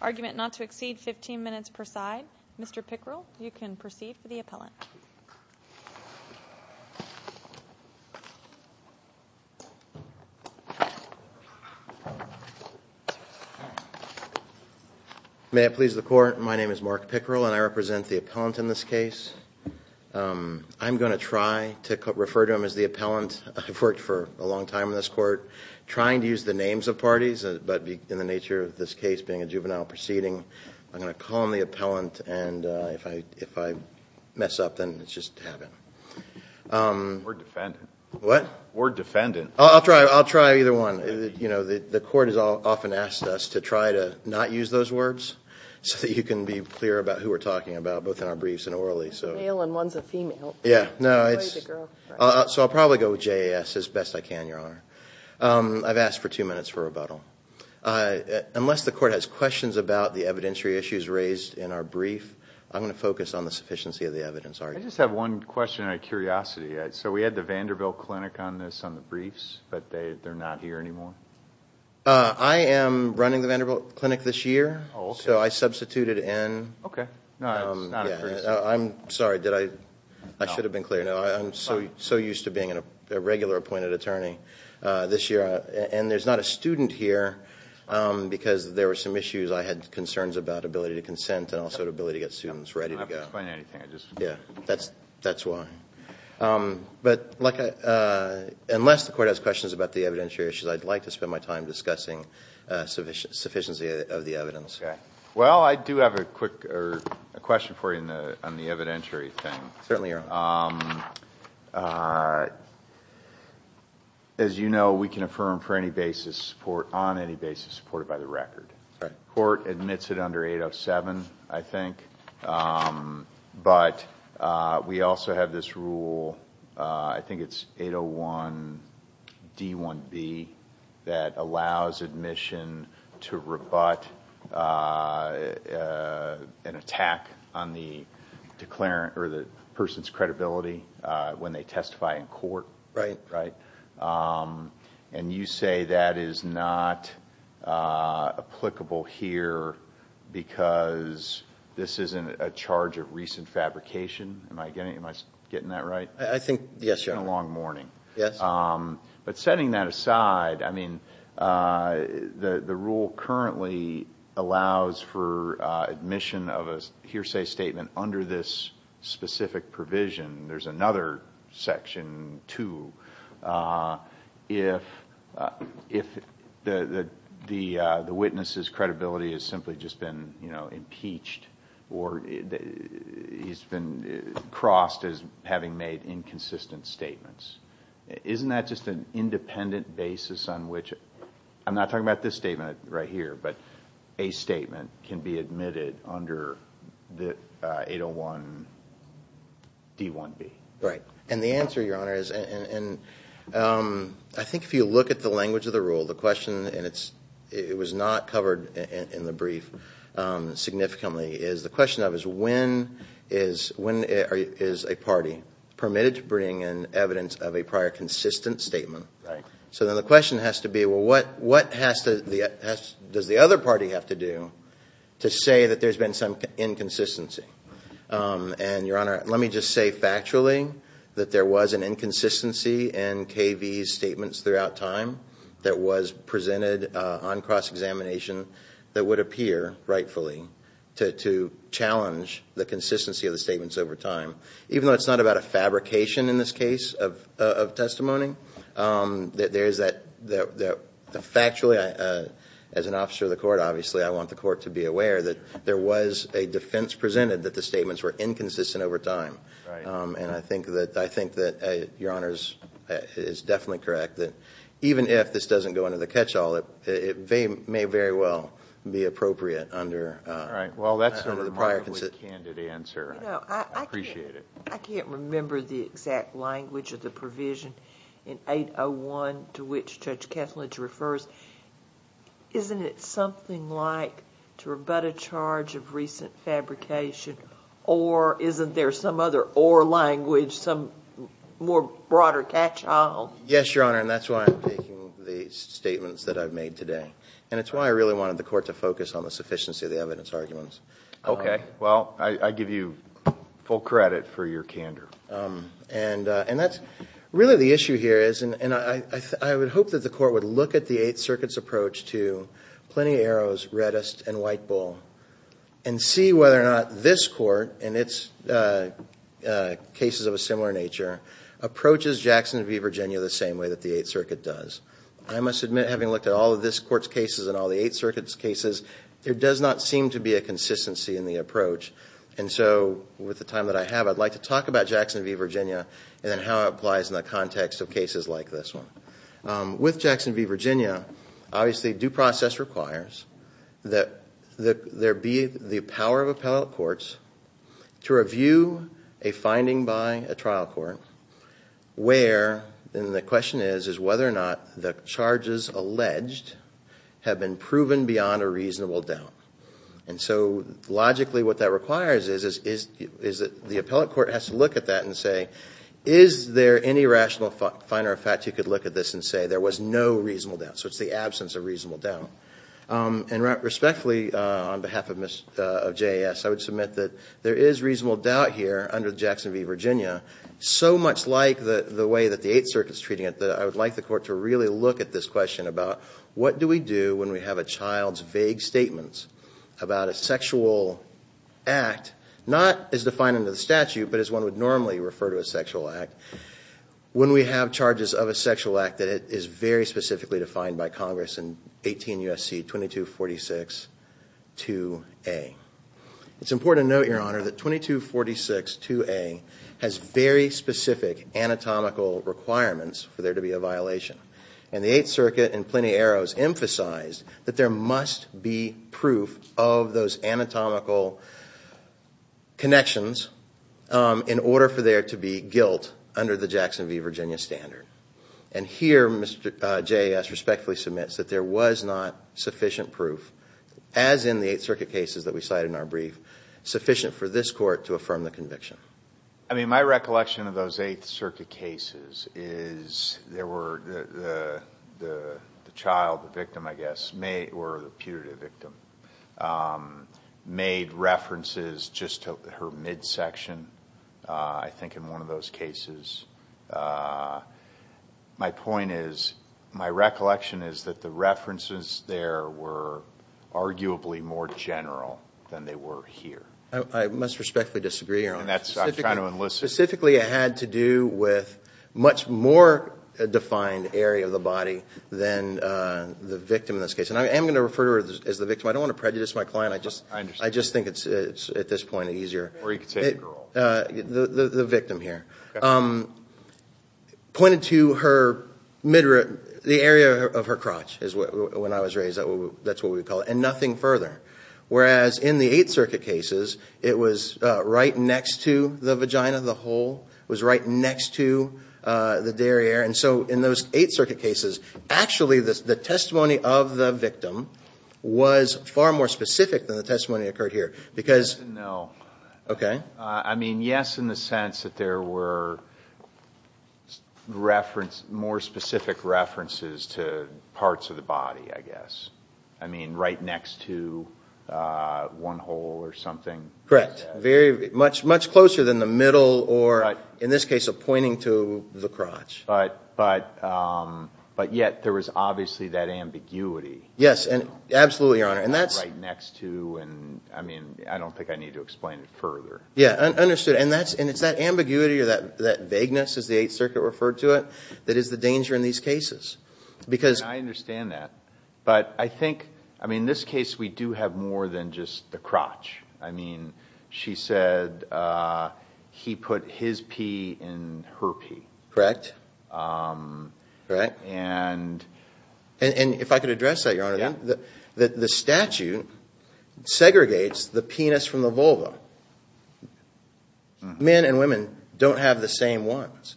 argument not to exceed 15 minutes per side. Mr. Pickrell, you can proceed for the appellant. May it please the court, my name is Mark Pickrell and I represent the appellant in this case. I'm going to try to refer to him as the appellant. I've worked for a long time in this court, trying to use the names of parties, but in the nature of this case being a juvenile proceeding, I'm going to call him the appellant and if I mess up then it's just to have him. We're defendants. What? We're defendants. I'll try either one. The court has often asked us to try to not use those words so that you can be clear about who we're talking about, both in our briefs and orally. One's a male and one's a female. So I'll probably go with JAS as best I can, Your Honor. I've asked for two minutes for rebuttal. Unless the court has questions about the evidentiary issues raised in our brief, I'm going to focus on the sufficiency of the evidence argument. I just have one question out of curiosity. So we had the Vanderbilt Clinic on this, on the briefs, but they're not here anymore? I am running the Vanderbilt Clinic this year, so I substituted in. Okay. I'm sorry, I should have been clear. I'm so used to being a regular appointed attorney this year and there's not a student here because there were some issues. I had concerns about ability to consent and also ability to get students ready to go. That's why. But unless the court has questions about the evidentiary issues, I'd like to spend my time discussing sufficiency of the evidence. Well, I do have a question for you on the evidentiary thing. Certainly, Your Honor. As you know, we can affirm on any basis supported by the record. The court admits it under 807, I think. But we also have this rule, I think it's 801 D1B, that allows admission to rebut an attack on the person's credibility when they testify in court. Right. And you say that is not applicable here because this isn't a charge of recent fabrication? Am I getting that right? I think, yes, Your Honor. It's been a long morning. Yes. But setting that aside, the rule currently allows for admission of a hearsay statement under this specific provision. There's another section, too, if the witness's credibility has simply just been impeached or he's been crossed as having made inconsistent statements. Isn't that just an independent basis on which, I'm not talking about this statement right here, but a statement can be admitted under 801 D1B? Right. And the answer, Your Honor, is I think if you look at the language of the rule, the question, and it was not covered in the brief significantly, is when is a party permitted to bring in evidence of a prior consistent statement? Right. So then the question has to be, well, what does the other party have to do to say that there's been some inconsistency? And, Your Honor, let me just say factually that there was an inconsistency in K.V.'s statements throughout time that was presented on cross-examination that would appear rightfully to challenge the consistency of the statements over time. Even though it's not about a fabrication in this case of testimony, there is that factually, as an officer of the court, obviously I want the court to be aware that there was a defense presented that the statements were inconsistent over time. Right. And I think that Your Honor is definitely correct that even if this doesn't go into the catch-all, it may very well be appropriate under the prior consistent... Right. Well, that's a remarkably candid answer. I appreciate it. I can't remember the exact language of the provision in 801 to which Judge Kethledge refers. Isn't it something like, to rebut a charge of recent fabrication, or isn't there some other or language, some more broader catch-all? Yes, Your Honor, and that's why I'm taking the statements that I've made today. And it's why I really wanted the court to focus on the sufficiency of the evidence arguments. Okay. Well, I give you full credit for your candor. And that's really the issue here is, and I would hope that the court would look at the Eighth Circuit's approach to Plenty of Arrows, Reddist, and White Bull... and see whether or not this court, and it's cases of a similar nature, approaches Jackson v. Virginia the same way that the Eighth Circuit does. I must admit, having looked at all of this court's cases and all the Eighth Circuit's cases, there does not seem to be a consistency in the approach. And so, with the time that I have, I'd like to talk about Jackson v. Virginia and how it applies in the context of cases like this one. With Jackson v. Virginia, obviously due process requires that there be the power of appellate courts to review a finding by a trial court... where, and the question is, is whether or not the charges alleged have been proven beyond a reasonable doubt. And so, logically what that requires is that the appellate court has to look at that and say... Is there any rational finder of fact you could look at this and say there was no reasonable doubt? So, it's the absence of reasonable doubt. And respectfully, on behalf of JAS, I would submit that there is reasonable doubt here under Jackson v. Virginia... in the way that the Eighth Circuit is treating it, that I would like the court to really look at this question about... what do we do when we have a child's vague statements about a sexual act... not as defined under the statute, but as one would normally refer to a sexual act... when we have charges of a sexual act that is very specifically defined by Congress in 18 U.S.C. 2246-2A. It's important to note, Your Honor, that 2246-2A has very specific anatomical requirements for there to be a violation. And, the Eighth Circuit in Plenty Arrows emphasized that there must be proof of those anatomical connections... in order for there to be guilt under the Jackson v. Virginia standard. And here, Mr. JAS respectfully submits that there was not sufficient proof... as in the Eighth Circuit cases that we cited in our brief... sufficient for this court to affirm the conviction. I mean, my recollection of those Eighth Circuit cases is... there were... the child, the victim, I guess, or the putative victim... made references just to her midsection, I think in one of those cases. My point is... my recollection is that the references there were arguably more general than they were here. I must respectfully disagree, Your Honor. And, that's... I'm trying to enlist... Specifically, it had to do with much more defined area of the body than the victim in this case. And, I am going to refer to her as the victim. I don't want to prejudice my client. I just... I understand. I just think it's, at this point, easier... Or, you could say the girl. The victim here. Pointed to her midrib... the area of her crotch, when I was raised. That's what we would call it. And, nothing further. Whereas, in the Eighth Circuit cases, it was right next to the vagina, the hole. It was right next to the derriere. And so, in those Eighth Circuit cases, actually, the testimony of the victim was far more specific than the testimony that occurred here. Because... No. Okay. I mean, yes, in the sense that there were more specific references to parts of the body, I guess. I mean, right next to one hole or something. Correct. Very... much closer than the middle or, in this case, of pointing to the crotch. But, yet, there was obviously that ambiguity. Yes. And, absolutely, Your Honor. And, that's... Right next to... and, I mean, I don't think I need to explain it further. Yes, understood. And, it's that ambiguity or that vagueness, as the Eighth Circuit referred to it, that is the danger in these cases. Because... I understand that. But, I think... I mean, in this case, we do have more than just the crotch. I mean, she said he put his pee in her pee. Correct. Correct. And... And, if I could address that, Your Honor. Yes. The statute segregates the penis from the vulva. Men and women don't have the same ones.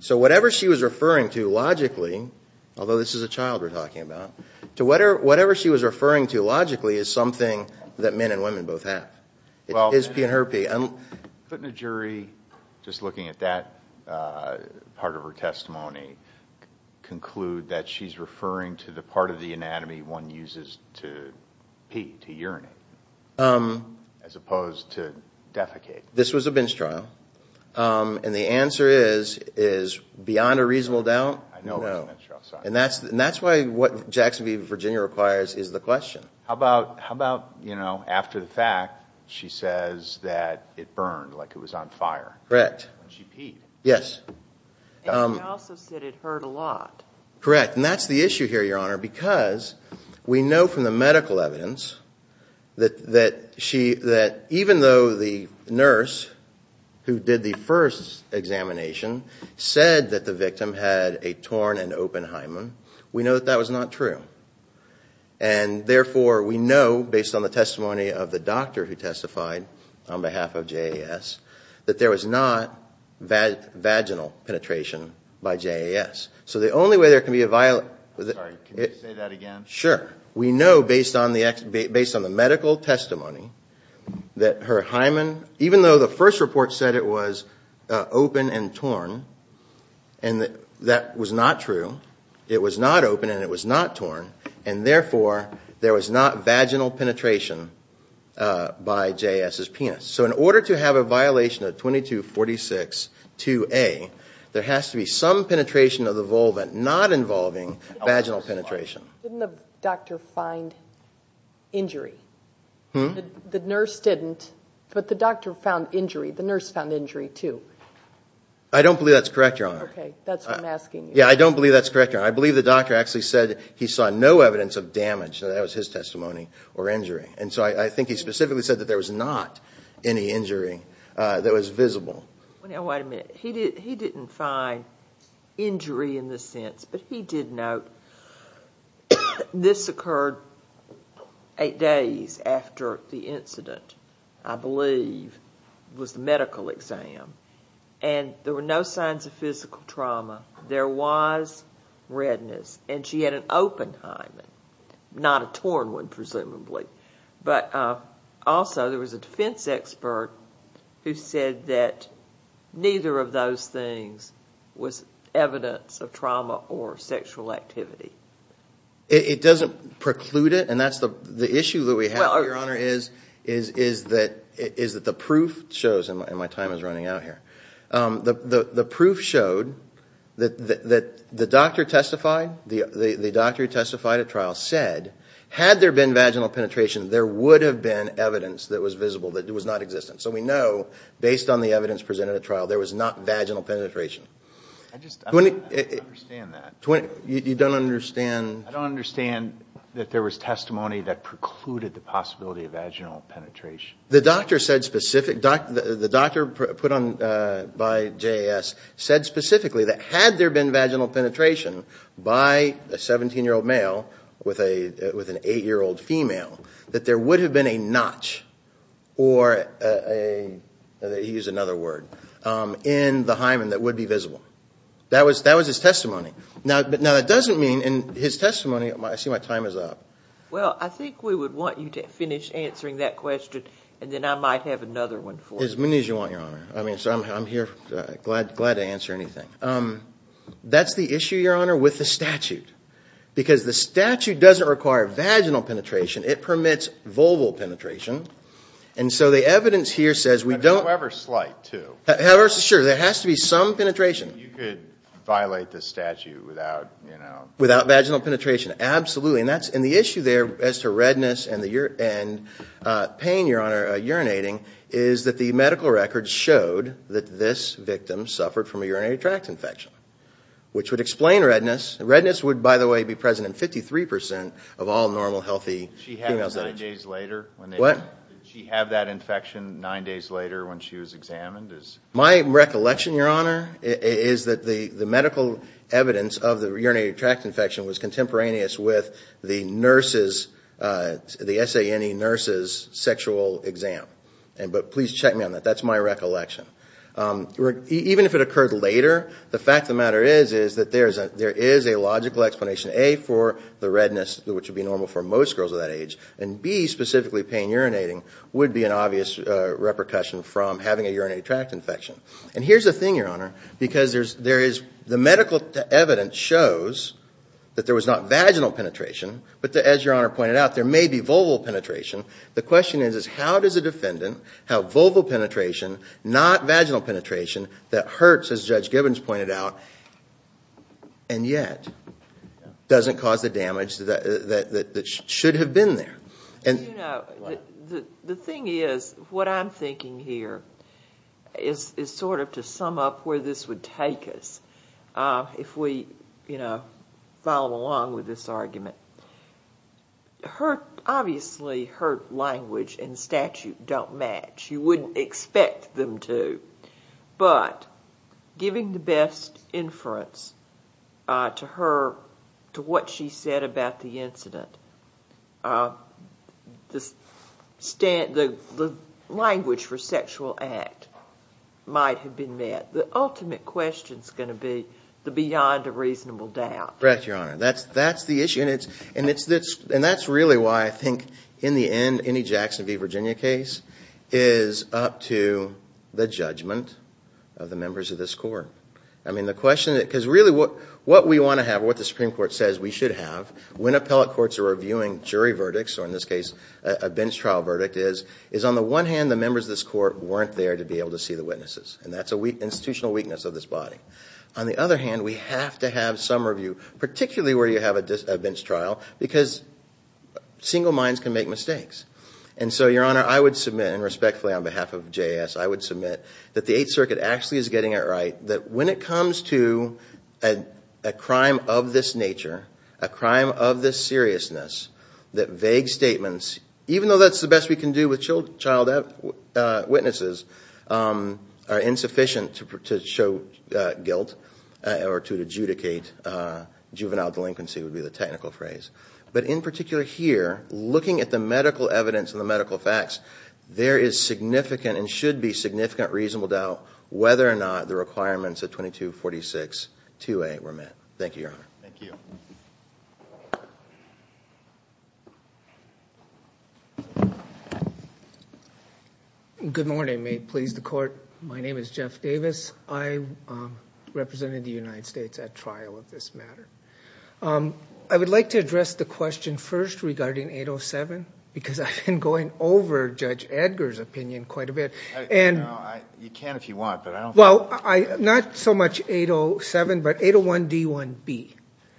So, whatever she was referring to, logically, although this is a child we're talking about, to whatever she was referring to, logically, is something that men and women both have. Well... His pee and her pee. Couldn't a jury, just looking at that part of her testimony, conclude that she's referring to the part of the anatomy one uses to pee, to urinate, as opposed to defecate? This was a bench trial. And, the answer is, beyond a reasonable doubt, no. I know it was a bench trial. Sorry. And, that's why what Jackson v. Virginia requires is the question. How about, you know, after the fact, she says that it burned, like it was on fire. Correct. When she peed. Yes. And, she also said it hurt a lot. Correct. And, that's the issue here, Your Honor, because we know from the medical evidence that even though the nurse who did the first examination said that the victim had a torn and open hymen, we know that that was not true. And, therefore, we know, based on the testimony of the doctor who testified on behalf of JAS, that there was not vaginal penetration by JAS. So, the only way there can be a... Sorry. Can you say that again? Sure. We know, based on the medical testimony, that her hymen, even though the first report said it was open and torn, and that was not true. It was not open and it was not torn. And, therefore, there was not vaginal penetration by JAS's penis. So, in order to have a violation of 2246-2A, there has to be some penetration of the vulva not involving vaginal penetration. Didn't the doctor find injury? Hmm? The nurse didn't, but the doctor found injury. The nurse found injury, too. I don't believe that's correct, Your Honor. Okay. That's what I'm asking you. Yeah, I don't believe that's correct, Your Honor. I believe the doctor actually said he saw no evidence of damage. That was his testimony, or injury. And, so, I think he specifically said that there was not any injury that was visible. Now, wait a minute. He didn't find injury in this sense, but he did note this occurred eight days after the incident. I believe it was the medical exam, and there were no signs of physical trauma. There was redness, and she had an open hymen, not a torn one, presumably. But, also, there was a defense expert who said that neither of those things was evidence of trauma or sexual activity. It doesn't preclude it, and that's the issue that we have, Your Honor, is that the proof shows, and my time is running out here, the proof showed that the doctor who testified at trial said, had there been vaginal penetration, there would have been evidence that was visible that it was not existent. So, we know, based on the evidence presented at trial, there was not vaginal penetration. I just don't understand that. You don't understand? I don't understand that there was testimony that precluded the possibility of vaginal penetration. The doctor put on by JAS said specifically that had there been vaginal penetration by a 17-year-old male with an 8-year-old female, that there would have been a notch, or he used another word, in the hymen that would be visible. That was his testimony. Now, that doesn't mean, in his testimony, I see my time is up. Well, I think we would want you to finish answering that question, and then I might have another one for you. As many as you want, Your Honor. I'm here, glad to answer anything. That's the issue, Your Honor, with the statute, because the statute doesn't require vaginal penetration. It permits vulval penetration, and so the evidence here says we don't… However slight, too. However, sure, there has to be some penetration. You could violate the statute without… Without vaginal penetration, absolutely. And the issue there as to redness and pain, Your Honor, urinating, is that the medical records showed that this victim suffered from a urinary tract infection, which would explain redness. Redness would, by the way, be present in 53% of all normal healthy female… Did she have that infection nine days later when she was examined? My recollection, Your Honor, is that the medical evidence of the urinary tract infection was contemporaneous with the nurse's, the SANE nurse's sexual exam. But please check me on that. That's my recollection. Even if it occurred later, the fact of the matter is that there is a logical explanation, A, for the redness, which would be normal for most girls of that age, and B, specifically pain urinating, would be an obvious repercussion from having a urinary tract infection. And here's the thing, Your Honor, because there is… The medical evidence shows that there was not vaginal penetration, but as Your Honor pointed out, there may be vulval penetration. The question is how does a defendant have vulval penetration, not vaginal penetration, that hurts, as Judge Gibbons pointed out, and yet doesn't cause the damage that should have been there. You know, the thing is, what I'm thinking here is sort of to sum up where this would take us if we follow along with this argument. Obviously, hurt language and statute don't match. You wouldn't expect them to. But giving the best inference to her, to what she said about the incident, the language for sexual act might have been met. The ultimate question is going to be the beyond a reasonable doubt. Correct, Your Honor. That's the issue. And that's really why I think in the end, any Jackson v. Virginia case is up to the judgment of the members of this court. I mean, the question… Because really what we want to have, what the Supreme Court says we should have when appellate courts are reviewing jury verdicts, or in this case, a bench trial verdict, is on the one hand, the members of this court weren't there to be able to see the witnesses. And that's an institutional weakness of this body. On the other hand, we have to have some review, particularly where you have a bench trial, because single minds can make mistakes. And so, Your Honor, I would submit, and respectfully on behalf of JS, I would submit that the Eighth Circuit actually is getting it right that when it comes to a crime of this nature, a crime of this seriousness, that vague statements, even though that's the best we can do with child witnesses, are insufficient to show guilt or to adjudicate juvenile delinquency would be the technical phrase. But in particular here, looking at the medical evidence and the medical facts, there is significant and should be significant reasonable doubt whether or not the requirements of 2246-2A were met. Thank you, Your Honor. Thank you. Good morning. May it please the court, my name is Jeff Davis. I represented the United States at trial of this matter. I would like to address the question first regarding 807, because I've been going over Judge Edgar's opinion quite a bit. Well, not so much 807, but 801-D1-B,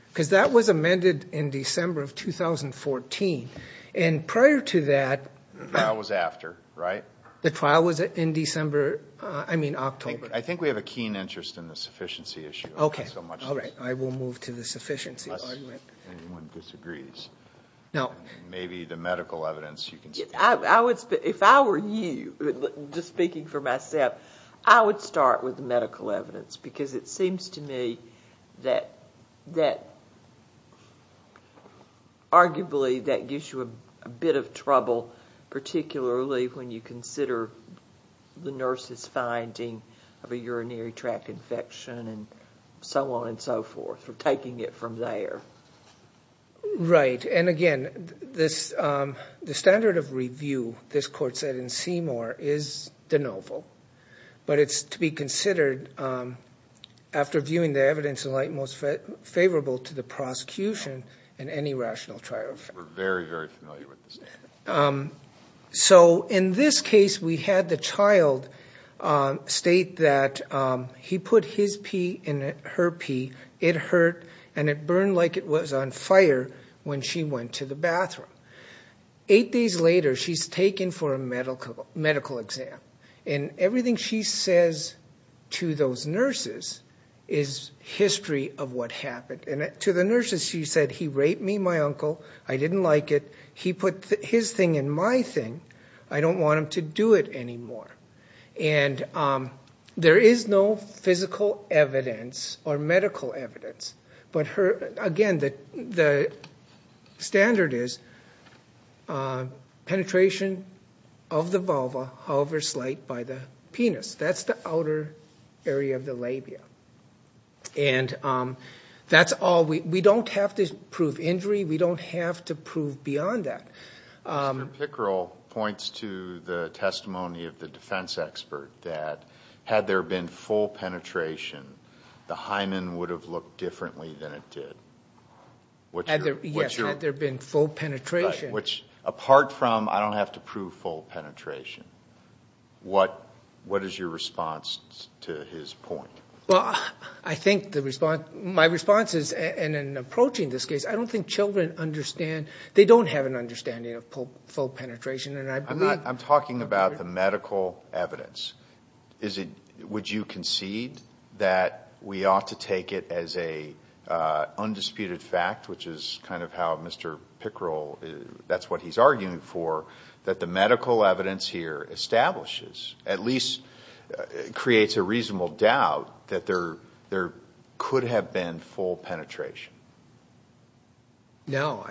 because that was amended in December of 2014. And prior to that, The trial was after, right? The trial was in December, I mean October. I think we have a keen interest in the sufficiency issue. Okay. All right. I will move to the sufficiency argument. Unless anyone disagrees. No. Maybe the medical evidence you can speak to. If I were you, just speaking for myself, I would start with the medical evidence, because it seems to me that arguably that gives you a bit of trouble, particularly when you consider the nurse's finding of a urinary tract infection and so on and so forth, or taking it from there. Right. And, again, the standard of review, this court said in Seymour, is de novo. But it's to be considered, after viewing the evidence in light, most favorable to the prosecution in any rational trial. We're very, very familiar with the standard. So in this case, we had the child state that he put his pee in her pee, it hurt, and it burned like it was on fire when she went to the bathroom. Eight days later, she's taken for a medical exam. And everything she says to those nurses is history of what happened. And to the nurses, she said, he raped me and my uncle, I didn't like it, he put his thing in my thing, I don't want him to do it anymore. And there is no physical evidence or medical evidence. But, again, the standard is penetration of the vulva, however slight, by the penis. That's the outer area of the labia. And that's all. We don't have to prove injury. We don't have to prove beyond that. Mr. Pickerel points to the testimony of the defense expert that, had there been full penetration, the hymen would have looked differently than it did. Yes, had there been full penetration. Apart from, I don't have to prove full penetration. What is your response to his point? Well, I think my response is, and in approaching this case, I don't think children understand, they don't have an understanding of full penetration. I'm talking about the medical evidence. Would you concede that we ought to take it as an undisputed fact, which is kind of how Mr. Pickerel, that's what he's arguing for, that the medical evidence here establishes, at least creates a reasonable doubt that there could have been full penetration? No.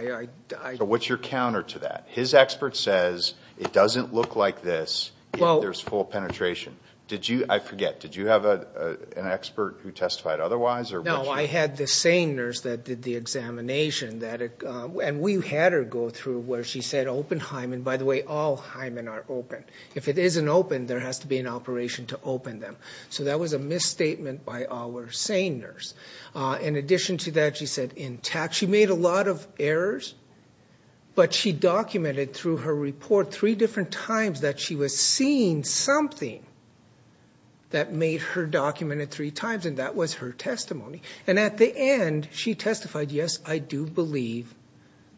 So what's your counter to that? His expert says it doesn't look like this if there's full penetration. I forget, did you have an expert who testified otherwise? No, I had the SANE nurse that did the examination. And we had her go through where she said open hymen. By the way, all hymen are open. If it isn't open, there has to be an operation to open them. So that was a misstatement by our SANE nurse. In addition to that, she said intact. She made a lot of errors, but she documented through her report three different times that she was seeing something that made her document it three times, and that was her testimony. And at the end, she testified, yes, I do believe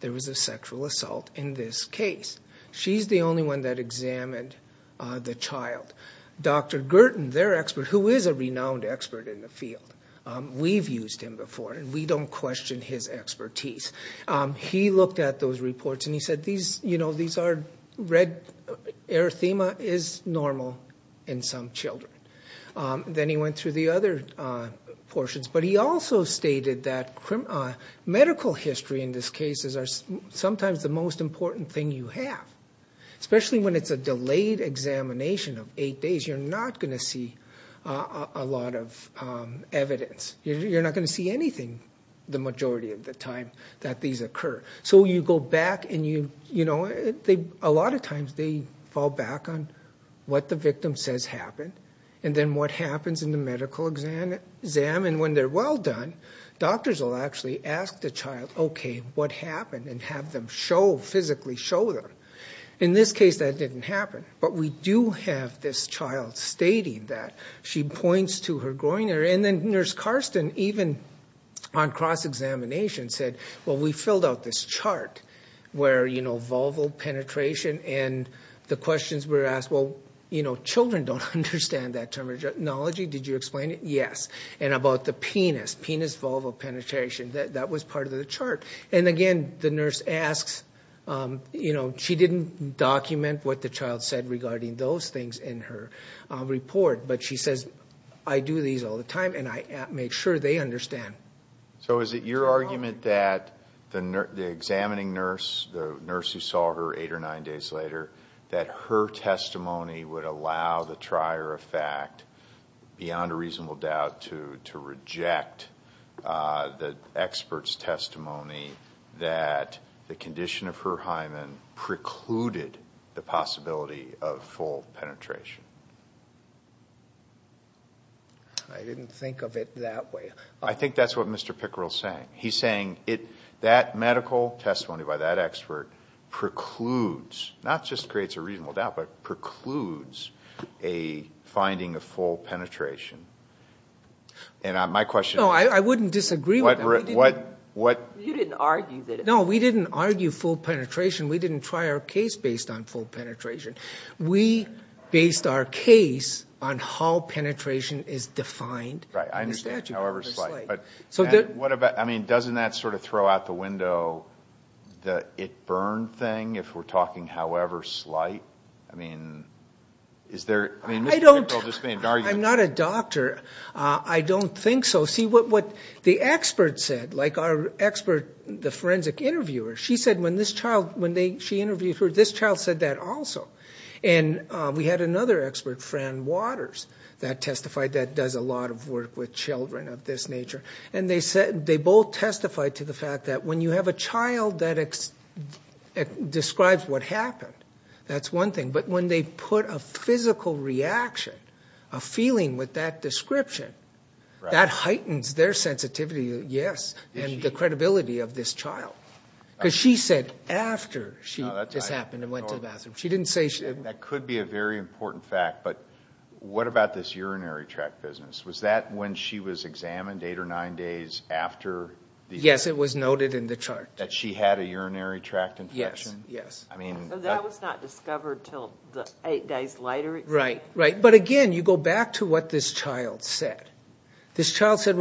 there was a sexual assault in this case. She's the only one that examined the child. Dr. Gertin, their expert, who is a renowned expert in the field, we've used him before and we don't question his expertise. He looked at those reports and he said, you know, these are red erythema is normal in some children. Then he went through the other portions, but he also stated that medical history in this case is sometimes the most important thing you have, especially when it's a delayed examination of eight days. You're not going to see a lot of evidence. You're not going to see anything the majority of the time that these occur. So you go back and, you know, a lot of times they fall back on what the victim says happened and then what happens in the medical exam. And when they're well done, doctors will actually ask the child, okay, what happened and have them show, physically show them. In this case, that didn't happen. But we do have this child stating that. She points to her groin area. And then Nurse Karsten, even on cross-examination, said, well, we filled out this chart where, you know, vulval penetration and the questions were asked, well, you know, children don't understand that terminology. Did you explain it? Yes. And about the penis, penis vulval penetration, that was part of the chart. And, again, the nurse asks, you know, she didn't document what the child said regarding those things in her report, but she says, I do these all the time and I make sure they understand. So is it your argument that the examining nurse, the nurse who saw her eight or nine days later, that her testimony would allow the trier of fact, beyond a reasonable doubt, to reject the expert's testimony that the condition of her hymen precluded the possibility of full penetration? I didn't think of it that way. I think that's what Mr. Pickerel is saying. He's saying that medical testimony by that expert precludes, not just creates a reasonable doubt, but precludes a finding of full penetration. And my question is... No, I wouldn't disagree with that. You didn't argue that... No, we didn't argue full penetration. We didn't try our case based on full penetration. We based our case on how penetration is defined in the statute. I understand however slight. Doesn't that sort of throw out the window, the it burned thing, if we're talking however slight? I mean, Mr. Pickerel just made an argument. I'm not a doctor. I don't think so. See, what the expert said, like our expert, the forensic interviewer, she said when this child, when she interviewed her, this child said that also. And we had another expert, Fran Waters, that testified that does a lot of work with children of this nature. And they both testified to the fact that when you have a child that describes what happened, that's one thing. But when they put a physical reaction, a feeling with that description, that heightens their sensitivity, yes, and the credibility of this child. Because she said after she just happened and went to the bathroom. That could be a very important fact. But what about this urinary tract business? Was that when she was examined, eight or nine days after? Yes, it was noted in the chart. That she had a urinary tract infection? Yes, yes. So that was not discovered until the eight days later? Right, right. But again, you go back to what this child said. This child said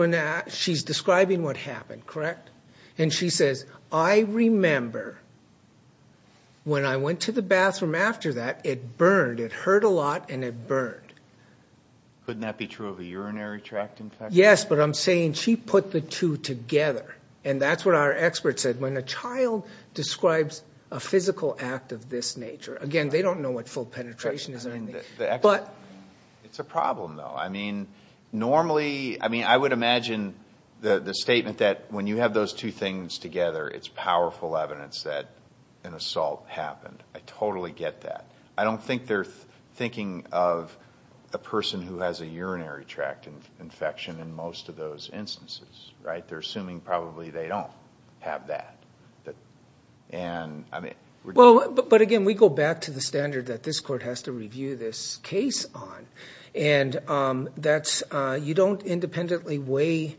she's describing what happened, correct? And she says, I remember when I went to the bathroom after that, it burned. It hurt a lot and it burned. Couldn't that be true of a urinary tract infection? Yes, but I'm saying she put the two together. And that's what our expert said. When a child describes a physical act of this nature, again, they don't know what full penetration is or anything. It's a problem, though. I mean, normally, I would imagine the statement that when you have those two things together, it's powerful evidence that an assault happened. I totally get that. I don't think they're thinking of a person who has a urinary tract infection in most of those instances, right? They're assuming probably they don't have that. But again, we go back to the standard that this court has to review this case on. And you don't independently weigh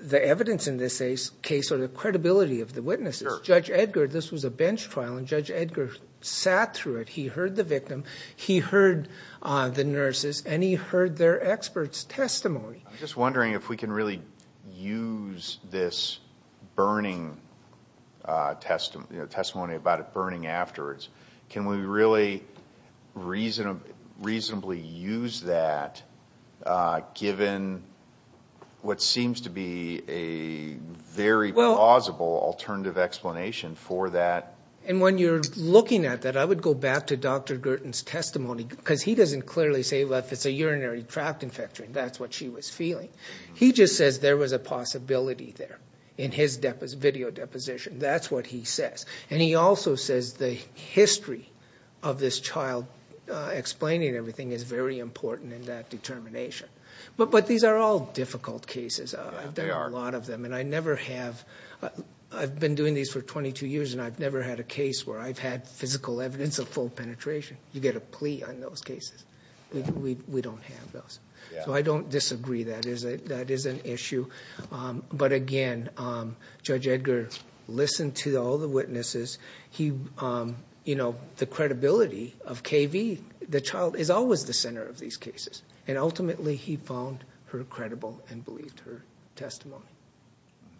the evidence in this case or the credibility of the witnesses. Judge Edgar, this was a bench trial, and Judge Edgar sat through it. He heard the victim. He heard the nurses, and he heard their experts' testimony. I'm just wondering if we can really use this burning testimony, the testimony about it burning afterwards, can we really reasonably use that given what seems to be a very plausible alternative explanation for that? And when you're looking at that, I would go back to Dr. Girton's testimony, because he doesn't clearly say, well, if it's a urinary tract infection, that's what she was feeling. He just says there was a possibility there in his video deposition. That's what he says. And he also says the history of this child explaining everything is very important in that determination. But these are all difficult cases. There are a lot of them. And I've been doing these for 22 years, and I've never had a case where I've had physical evidence of full penetration. You get a plea on those cases. We don't have those. So I don't disagree that that is an issue. But, again, Judge Edgar listened to all the witnesses. He, you know, the credibility of KV, the child, is always the center of these cases. And ultimately he found her credible and believed her testimony.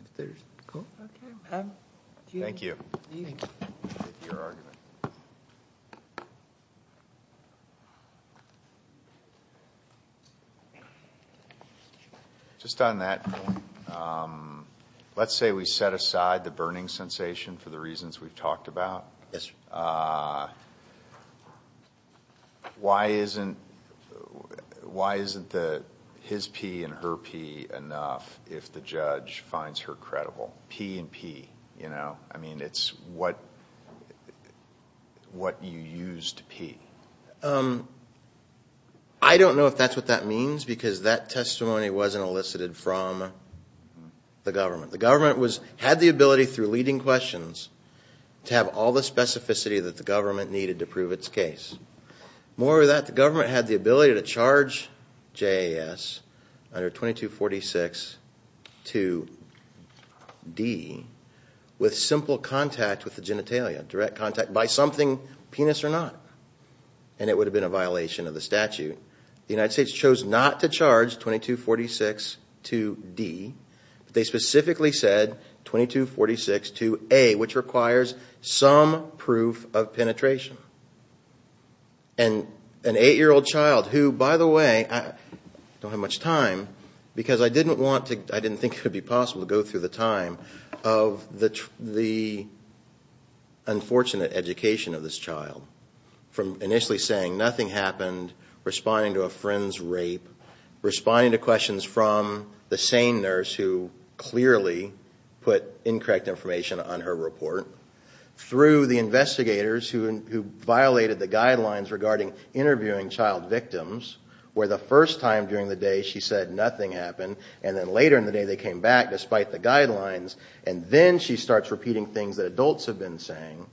Is there a call? Okay. Thank you. Thank you. Thank you for your argument. Thank you. Just on that, let's say we set aside the burning sensation for the reasons we've talked about. Yes, sir. Why isn't his pee and her pee enough if the judge finds her credible? Pee and pee, you know? I mean, it's what you use to pee. I don't know if that's what that means because that testimony wasn't elicited from the government. The government had the ability through leading questions to have all the specificity that the government needed to prove its case. More than that, the government had the ability to charge JAS under 2246 to D with simple contact with the genitalia, direct contact by something, penis or not. And it would have been a violation of the statute. The United States chose not to charge 2246 to D. They specifically said 2246 to A, which requires some proof of penetration. And an 8-year-old child who, by the way, I don't have much time because I didn't think it would be possible to go through the time of the unfortunate education of this child from initially saying nothing happened, responding to a friend's rape, responding to questions from the sane nurse who clearly put incorrect information on her report, through the investigators who violated the guidelines regarding interviewing child victims where the first time during the day she said nothing happened and then later in the day they came back despite the guidelines and then she starts repeating things that adults have been saying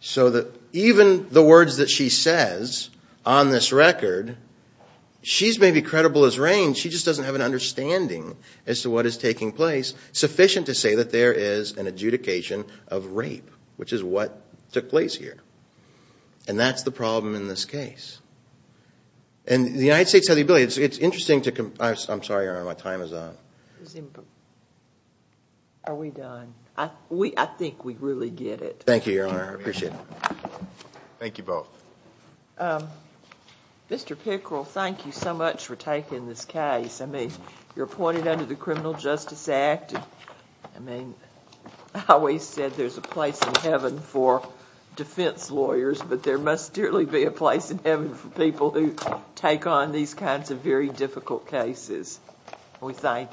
so that even the words that she says on this record, she's maybe credible as rain, she just doesn't have an understanding as to what is taking place sufficient to say that there is an adjudication of rape, which is what took place here. And that's the problem in this case. And the United States has the ability. I'm sorry, Your Honor, my time is up. Are we done? I think we really get it. Thank you, Your Honor, I appreciate it. Thank you both. Mr. Pickrell, thank you so much for taking this case. I mean, you're appointed under the Criminal Justice Act. I mean, I always said there's a place in heaven for defense lawyers, but there must really be a place in heaven for people who take on these kinds of very difficult cases. We thank you.